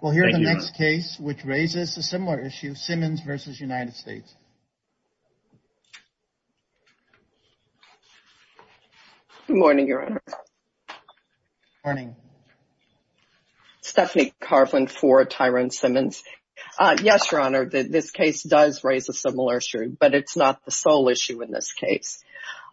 We'll hear the next case, which raises a similar issue, Simmons v. United States. Good morning, Your Honor. Morning. Stephanie Carvin for Tyrone Simmons. Yes, Your Honor, this case does raise a similar issue, but it's not the sole issue in this case.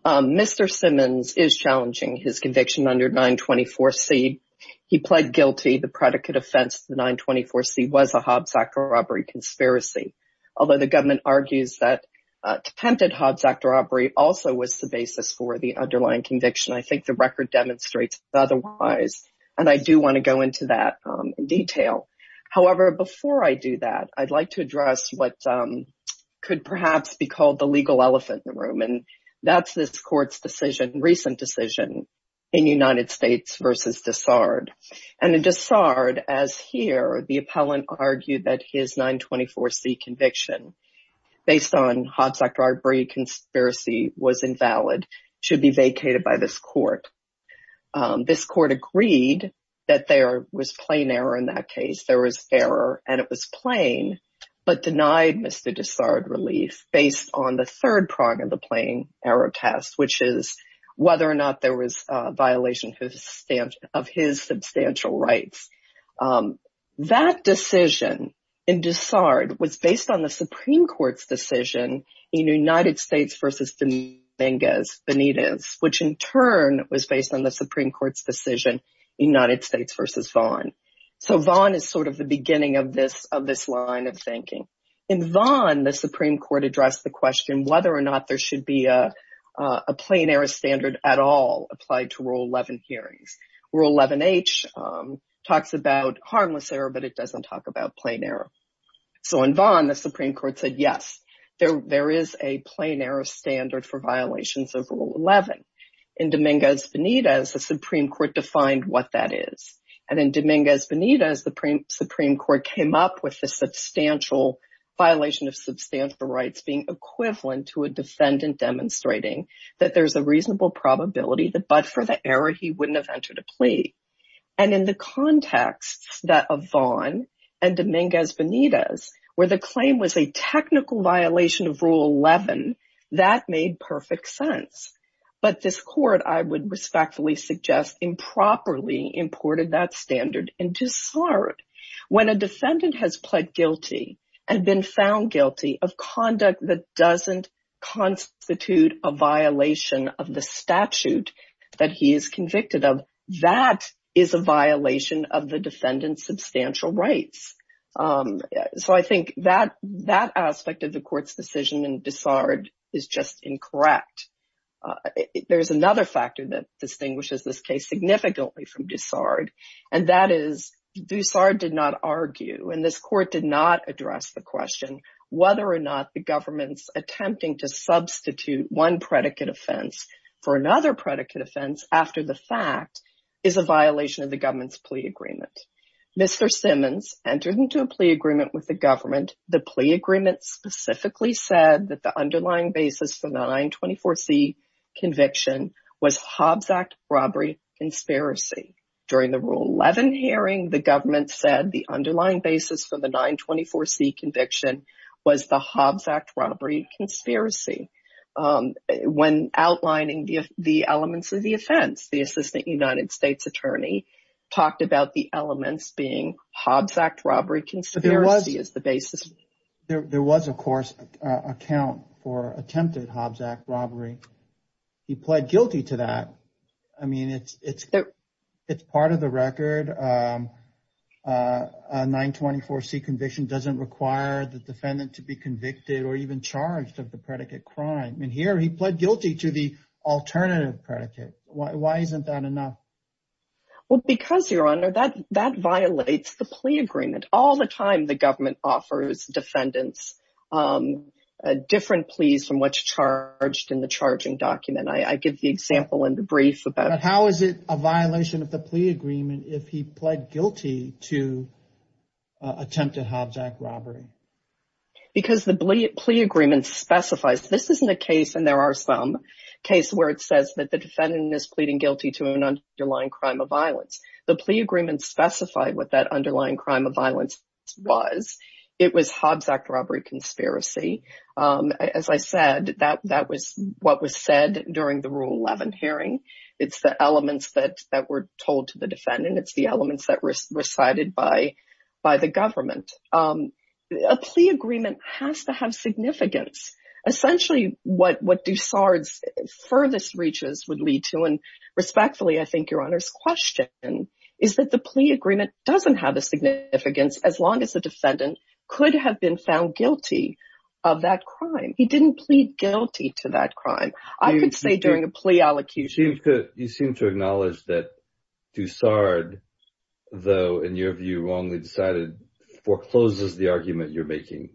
Mr. Simmons is challenging his conviction under 924c. He pled guilty. The predicate offense to 924c was a Hobbs Act robbery conspiracy, although the government argues that attempted Hobbs Act robbery also was the basis for the underlying conviction. I think the record demonstrates otherwise, and I do want to go into that in detail. However, before I do that, I'd like to address what could perhaps be called the legal elephant in the room, and that's this Court's decision, recent decision, in United And in DeSardes, as here, the appellant argued that his 924c conviction, based on Hobbs Act robbery conspiracy, was invalid, should be vacated by this Court. This Court agreed that there was plain error in that case. There was error, and it was plain, but denied Mr. DeSardes relief based on the third prong of the plain error test, which is whether or not there was a violation of his substantial rights. That decision in DeSardes was based on the Supreme Court's decision in United States v. Benitez, which in turn was based on the Supreme Court's decision in United States v. Vaughn. So Vaughn is sort of the beginning of this line of thinking. In Vaughn, the Supreme Court addressed the question whether or not there should be a plain error standard at all applied to Rule 11 hearings. Rule 11H talks about harmless error, but it doesn't talk about plain error. So in Vaughn, the Supreme Court said, yes, there is a plain error standard for violations of Rule 11. In Dominguez-Benitez, the Supreme Court defined what that is. And in Dominguez-Benitez, the Supreme Court came up with the substantial violation of substantial rights being equivalent to a defendant demonstrating that there's a reasonable probability that but for the error, he wouldn't have entered a plea. And in the context of Vaughn and Dominguez-Benitez, where the claim was a technical violation of Rule 11, that made perfect sense. But this court, I would respectfully suggest, improperly imported that standard in Dessard. When a defendant has pled guilty and been found guilty of conduct that doesn't constitute a violation of the statute that he is convicted of, that is a violation of the defendant's substantial rights. So I think that aspect of the court's decision in Dessard is just incorrect. There's another factor that distinguishes this case significantly from Dessard, and that is Dessard did not argue, and this court did not address the question whether or not the government's attempting to substitute one predicate offense for another predicate offense after the fact is a violation of the government's plea agreement. Mr. Simmons entered into a plea agreement with the government. The plea agreement specifically said that the underlying basis for the 924C conviction was Hobbs Act robbery conspiracy. During the Rule 11 hearing, the government said the underlying basis for the 924C conviction was the Hobbs Act robbery conspiracy. When outlining the elements of the offense, the Assistant United States Attorney talked about the elements being Hobbs Act robbery conspiracy as the basis. There was, of course, an account for attempted Hobbs Act robbery. He pled guilty to that. I mean, it's part of the record. A 924C conviction doesn't require the defendant to be convicted or even charged of the predicate crime, and here he pled guilty to the alternative predicate. Why isn't that enough? Well, because, Your Honor, that violates the plea agreement. All the time the government offers defendants different pleas from what's charged in the charging document. I give the example in the brief. But how is it a violation of the plea agreement if he pled guilty to attempted Hobbs Act robbery? Because the plea agreement specifies. This isn't a case, there are some cases where it says that the defendant is pleading guilty to an underlying crime of violence. The plea agreement specified what that underlying crime of violence was. It was Hobbs Act robbery conspiracy. As I said, that was what was said during the Rule 11 hearing. It's the elements that were told to the defendant. It's the elements that were recited by the government. A plea agreement has to have significance. Essentially, what Dussard's furthest reaches would lead to, and respectfully, I think, Your Honor's question, is that the plea agreement doesn't have a significance as long as the defendant could have been found guilty of that crime. He didn't plead guilty to that crime. I could say during a plea allecution. You seem to acknowledge that Dussard, though, in your view, wrongly decided, forecloses the argument you're making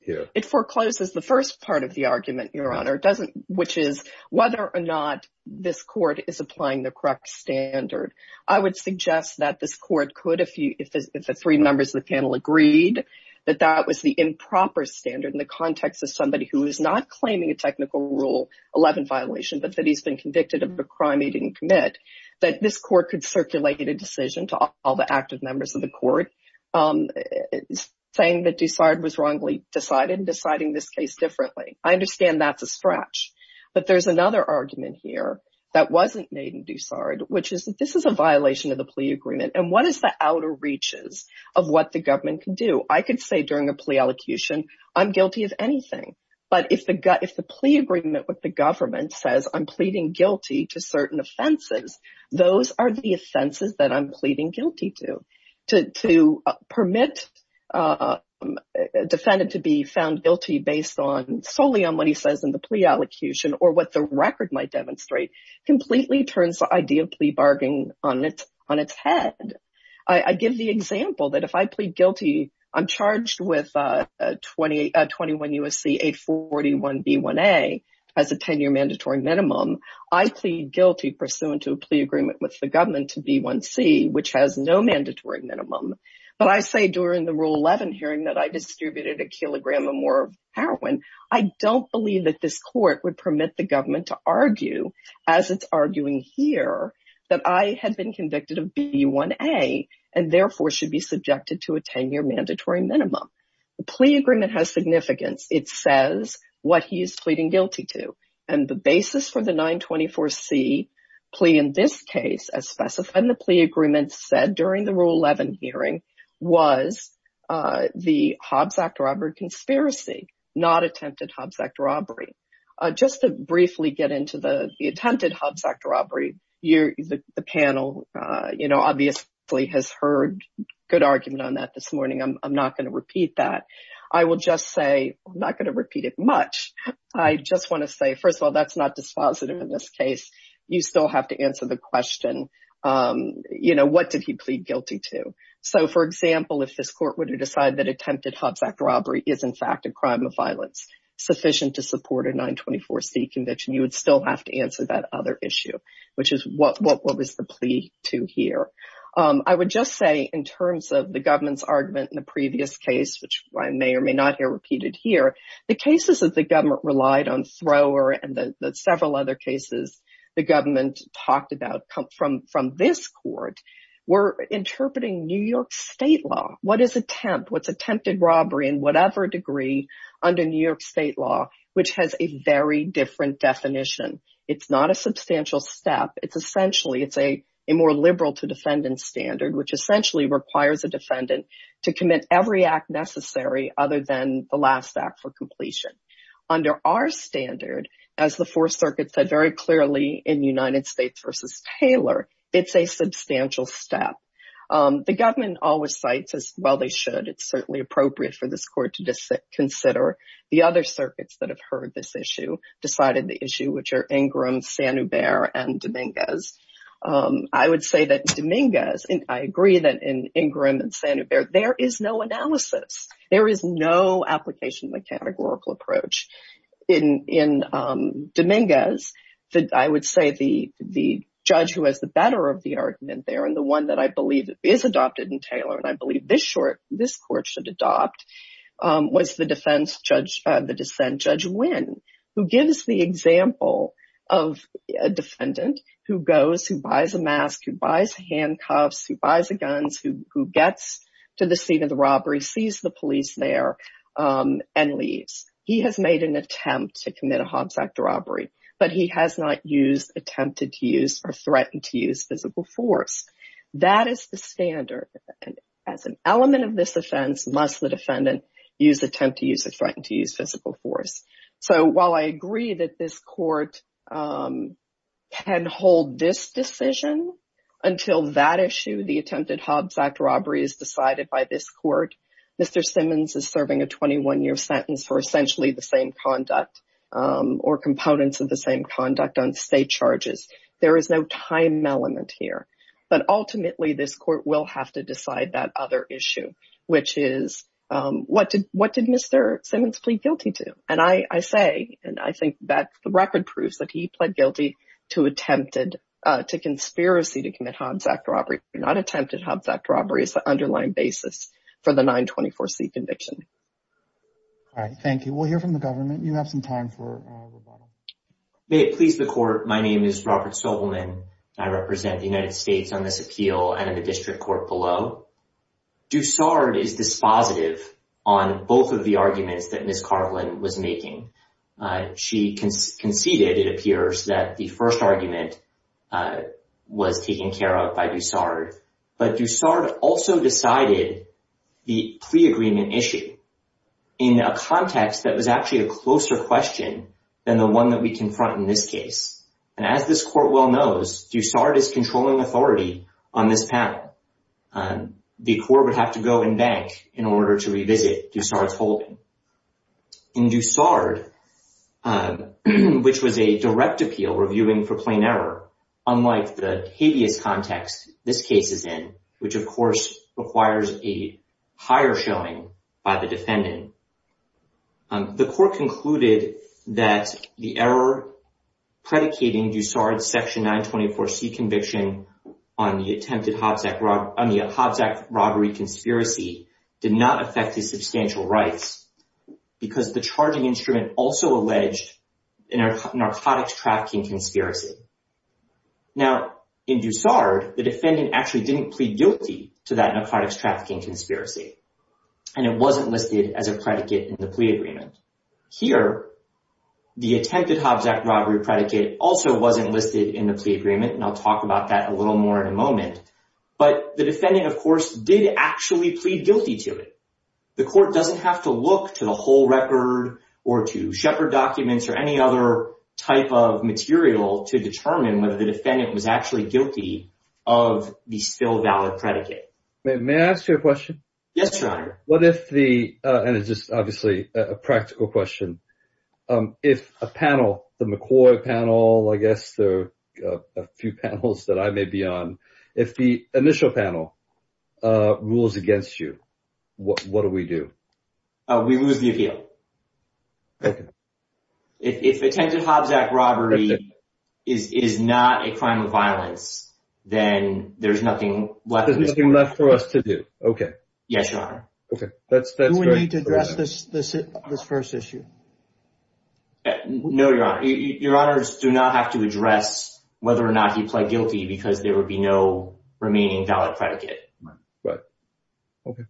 here. It forecloses the first part of the argument, Your Honor, which is whether or not this court is applying the correct standard. I would suggest that this court could, if the three members of the panel agreed, that that was the improper standard in the context of somebody who is not claiming a technical Rule 11 violation, but that he's been convicted of a crime he didn't commit, that this court could circulate a decision to all the active members of the court saying that Dussard was wrongly decided and deciding this case differently. I understand that's a stretch, but there's another argument here that wasn't made in Dussard, which is that this is a violation of the plea agreement, and what is the outer reaches of what the government can do? I could say during a plea elocution, I'm guilty of anything, but if the plea agreement with the government says I'm pleading guilty to certain offenses, those are the offenses that I'm pleading guilty to. To permit defendant to be found guilty based solely on what he says in the plea elocution or what the record might demonstrate completely turns the idea of plea bargaining on its head. I give the example that if I plead guilty, I'm charged with 21 U.S.C. 841 B1A as a 10-year mandatory minimum. I plead guilty pursuant to a plea agreement with the government to B1C, which has no mandatory minimum, but I say during the Rule 11 hearing that I distributed a kilogram or more of heroin. I don't believe that this court would permit the government to argue as it's arguing here that I had been convicted of B1A and therefore should be subjected to a 10-year mandatory minimum. The plea agreement has significance. It says what he is pleading guilty to, and the basis for the 924C plea in this case, as specified in the plea agreement, said during the Rule 11 hearing was the Hobbs Act robbery conspiracy, not attempted Hobbs Act robbery. Just to briefly get into the attempted Hobbs Act robbery, the panel obviously has heard good argument on that this morning. I'm not going to repeat that. I will just say, I'm not going to repeat it much. I just want to say, first of all, that's not dispositive in this case. You still have to answer the question, what did he plead guilty to? So, for example, if this court were to decide that attempted Hobbs Act robbery is in fact a crime of violence sufficient to support a 924C conviction, you would still have to answer that other issue, which is what was the plea to here. I would just say in terms of the government's argument in the previous case, which I may or may not hear repeated here, the cases that the government relied on Thrower and the several other cases the government talked about from this court were interpreting New York state law. What is attempt? What's attempted robbery in whatever degree under New York state law, which has a very different definition. It's not a substantial step. It's essentially a more liberal to defendant standard, which essentially requires a defendant to commit every act necessary other than the last act for completion. Under our standard, as the Fourth Circuit said very clearly in United States v. Taylor, it's a substantial step. The government always cites as, well, they should. It's certainly appropriate for this to consider the other circuits that have heard this issue, decided the issue, which are Ingram, Sanuber, and Dominguez. I would say that Dominguez, and I agree that in Ingram and Sanuber, there is no analysis. There is no application of the categorical approach. In Dominguez, I would say the judge who has the better of the argument there, and the one that I believe is adopted in Taylor, and I believe this court should adopt, was the defense judge, the dissent Judge Wynn, who gives the example of a defendant who goes, who buys a mask, who buys handcuffs, who buys the guns, who gets to the scene of the robbery, sees the police there, and leaves. He has made an attempt to commit a Hobbs Act robbery, but he has not used, attempted to use, or threatened to use physical force. That is the standard. As an element of this offense, must the defendant use, attempt to use, or threaten to use physical force. So, while I agree that this court can hold this decision until that issue, the attempted Hobbs Act robbery is decided by this court. Mr. Simmons is serving a 21-year sentence for essentially the conduct or components of the same conduct on state charges. There is no time element here, but ultimately this court will have to decide that other issue, which is, what did Mr. Simmons plead guilty to? And I say, and I think that the record proves that he pled guilty to attempted, to conspiracy to commit Hobbs Act robbery, not attempted Hobbs Act robbery, is the underlying basis for the 924C conviction. All right, thank you. We'll hear from the government. You have some time for rebuttal. May it please the court, my name is Robert Sobelman. I represent the United States on this appeal and in the district court below. Dussard is dispositive on both of the arguments that Ms. Carlin was making. She conceded, it appears, that the first argument was taken care of by Dussard, but Dussard also decided the plea agreement issue in a context that was actually a closer question than the one that we confront in this case. And as this court well knows, Dussard is controlling authority on this panel. The court would have to go and bank in order to revisit Dussard's holding. In Dussard, which was a direct appeal reviewing for plain error, unlike the hideous context this case is in, which of course requires a higher showing by the defendant, the court concluded that the error predicating Dussard's section 924C conviction on the attempted Hobbs Act robbery conspiracy did not affect his substantial rights because the charging instrument also alleged a narcotics trafficking conspiracy. Now, in Dussard, the defendant actually didn't plead guilty to that narcotics trafficking conspiracy, and it wasn't listed as a predicate in the plea agreement. Here, the attempted Hobbs Act robbery predicate also wasn't listed in the plea agreement, and I'll talk about that a little more in a moment, but the defendant, of course, did actually plead guilty to it. The court doesn't have to look to the whole record or to Shepard documents or any other type of material to determine whether the defendant was actually guilty of the still valid predicate. May I ask you a question? Yes, your honor. What if the, and it's just obviously a practical question, if a panel, the McCoy panel, I guess a few panels that I may be on, if the initial panel rules against you, what do we do? We lose the appeal. Okay. If attempted Hobbs Act robbery is not a crime of violence, then there's nothing left. There's nothing left for us to do. Okay. Yes, your honor. Okay. Do we need to address this first issue? No, your honor. Your honors do not have to address whether or not he pled guilty because there would be no remaining valid predicate. Right. Okay.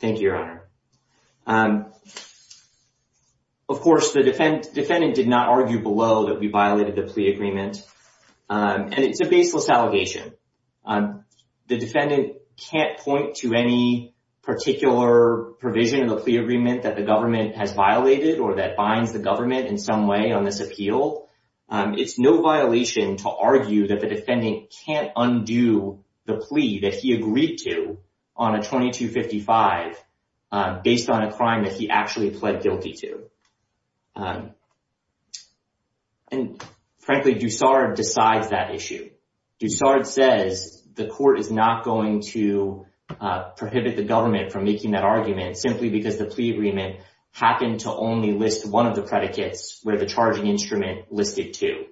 Thank you, your honor. Of course, the defendant did not argue below that we violated the plea agreement. And it's a baseless allegation. The defendant can't point to any particular provision of the plea agreement that the government has violated or that binds the government in some way on this appeal. It's no violation to argue that the defendant can't undo the plea that he agreed to on a 2255 based on a crime that he actually pled guilty to. And frankly, Dusard decides that issue. Dusard says the court is not going to prohibit the government from making that argument simply because the plea agreement happened to only list one of the predicates where the charging instrument listed two.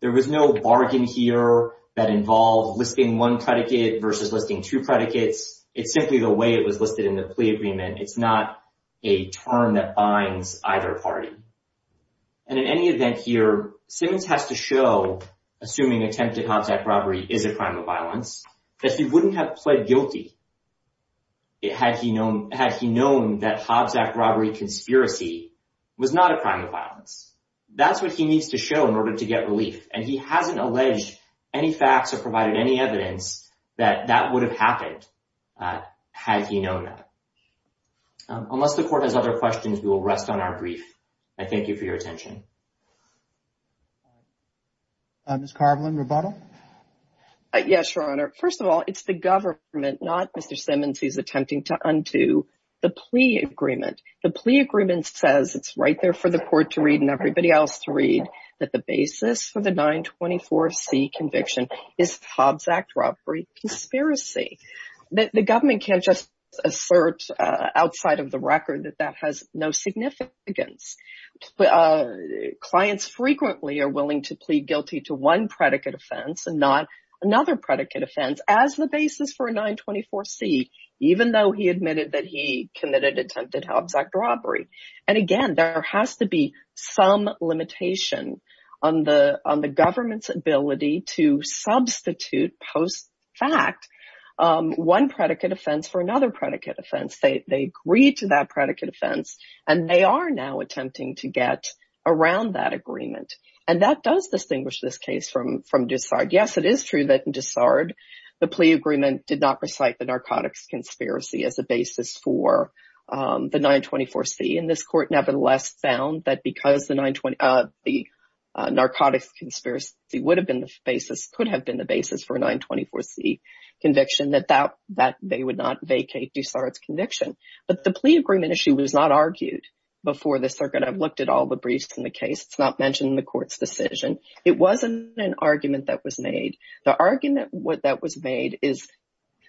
There was no bargain here that involved listing one predicate versus listing two predicates. It's simply the way it was listed in the plea agreement. It's not a term that binds either party. And in any event here, Simmons has to show, assuming attempted Hobbs Act robbery is a crime of violence, that he wouldn't have pled guilty had he known that Hobbs Act robbery conspiracy was not a crime of violence. That's what he needs to show in order to get relief. And he hasn't alleged any facts or provided any evidence that that would have happened had he known that. Unless the court has other questions, we will rest on our brief. I thank you for your attention. Ms. Carvelan, rebuttal? Yes, Your Honor. First of all, it's the government, not Mr. Simmons, who's attempting to undo the plea agreement. The plea agreement says, it's right there for the court to read and everybody else to read, that the basis for the 924C conviction is Hobbs Act robbery conspiracy. The government can't just assert outside of the record that that has no significance. Clients frequently are willing to plead guilty to one predicate offense and not another predicate offense as the basis for a 924C, even though he admitted that he committed attempted Hobbs Act robbery. And again, there has to be some limitation on the government's ability to substitute post fact one predicate offense for another predicate offense. They agreed to that predicate offense and they are now attempting to get around that agreement. And that does distinguish this case from Dussard. Yes, it is true that in Dussard, the plea agreement did not recite the narcotics conspiracy as a basis for the 924C. And this court nevertheless found that because the narcotics conspiracy could have been the basis for a 924C conviction, that they would not vacate Dussard's conviction. But the plea agreement issue was not argued before the circuit. I've looked at the briefs in the case. It's not mentioned in the court's decision. It wasn't an argument that was made. The argument that was made is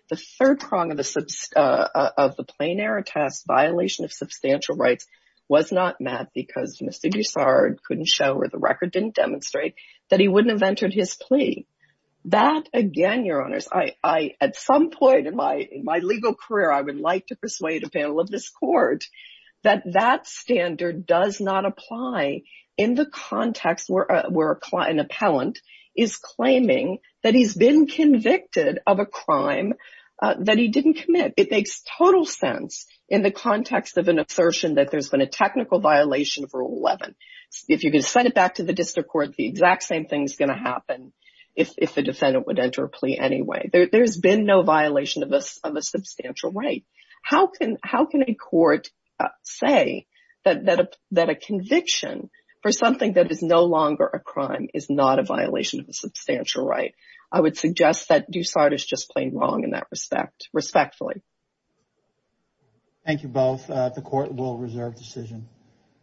the third prong of the plain error test violation of substantial rights was not met because Mr. Dussard couldn't show or the record didn't demonstrate that he wouldn't have entered his plea. That again, your honors, at some point in my legal career, I would like to persuade a panel of this court that that standard does not apply in the context where an appellant is claiming that he's been convicted of a crime that he didn't commit. It makes total sense in the context of an assertion that there's been a technical violation of Rule 11. If you're going to send it back to the district court, the exact same thing's going to happen if the defendant would enter a plea anyway. There's been no violation of a substantial right. How can a court say that a conviction for something that is no longer a crime is not a violation of a substantial right? I would suggest that Dussard is just plain wrong in that respect, respectfully. Thank you both. The court will reserve decision.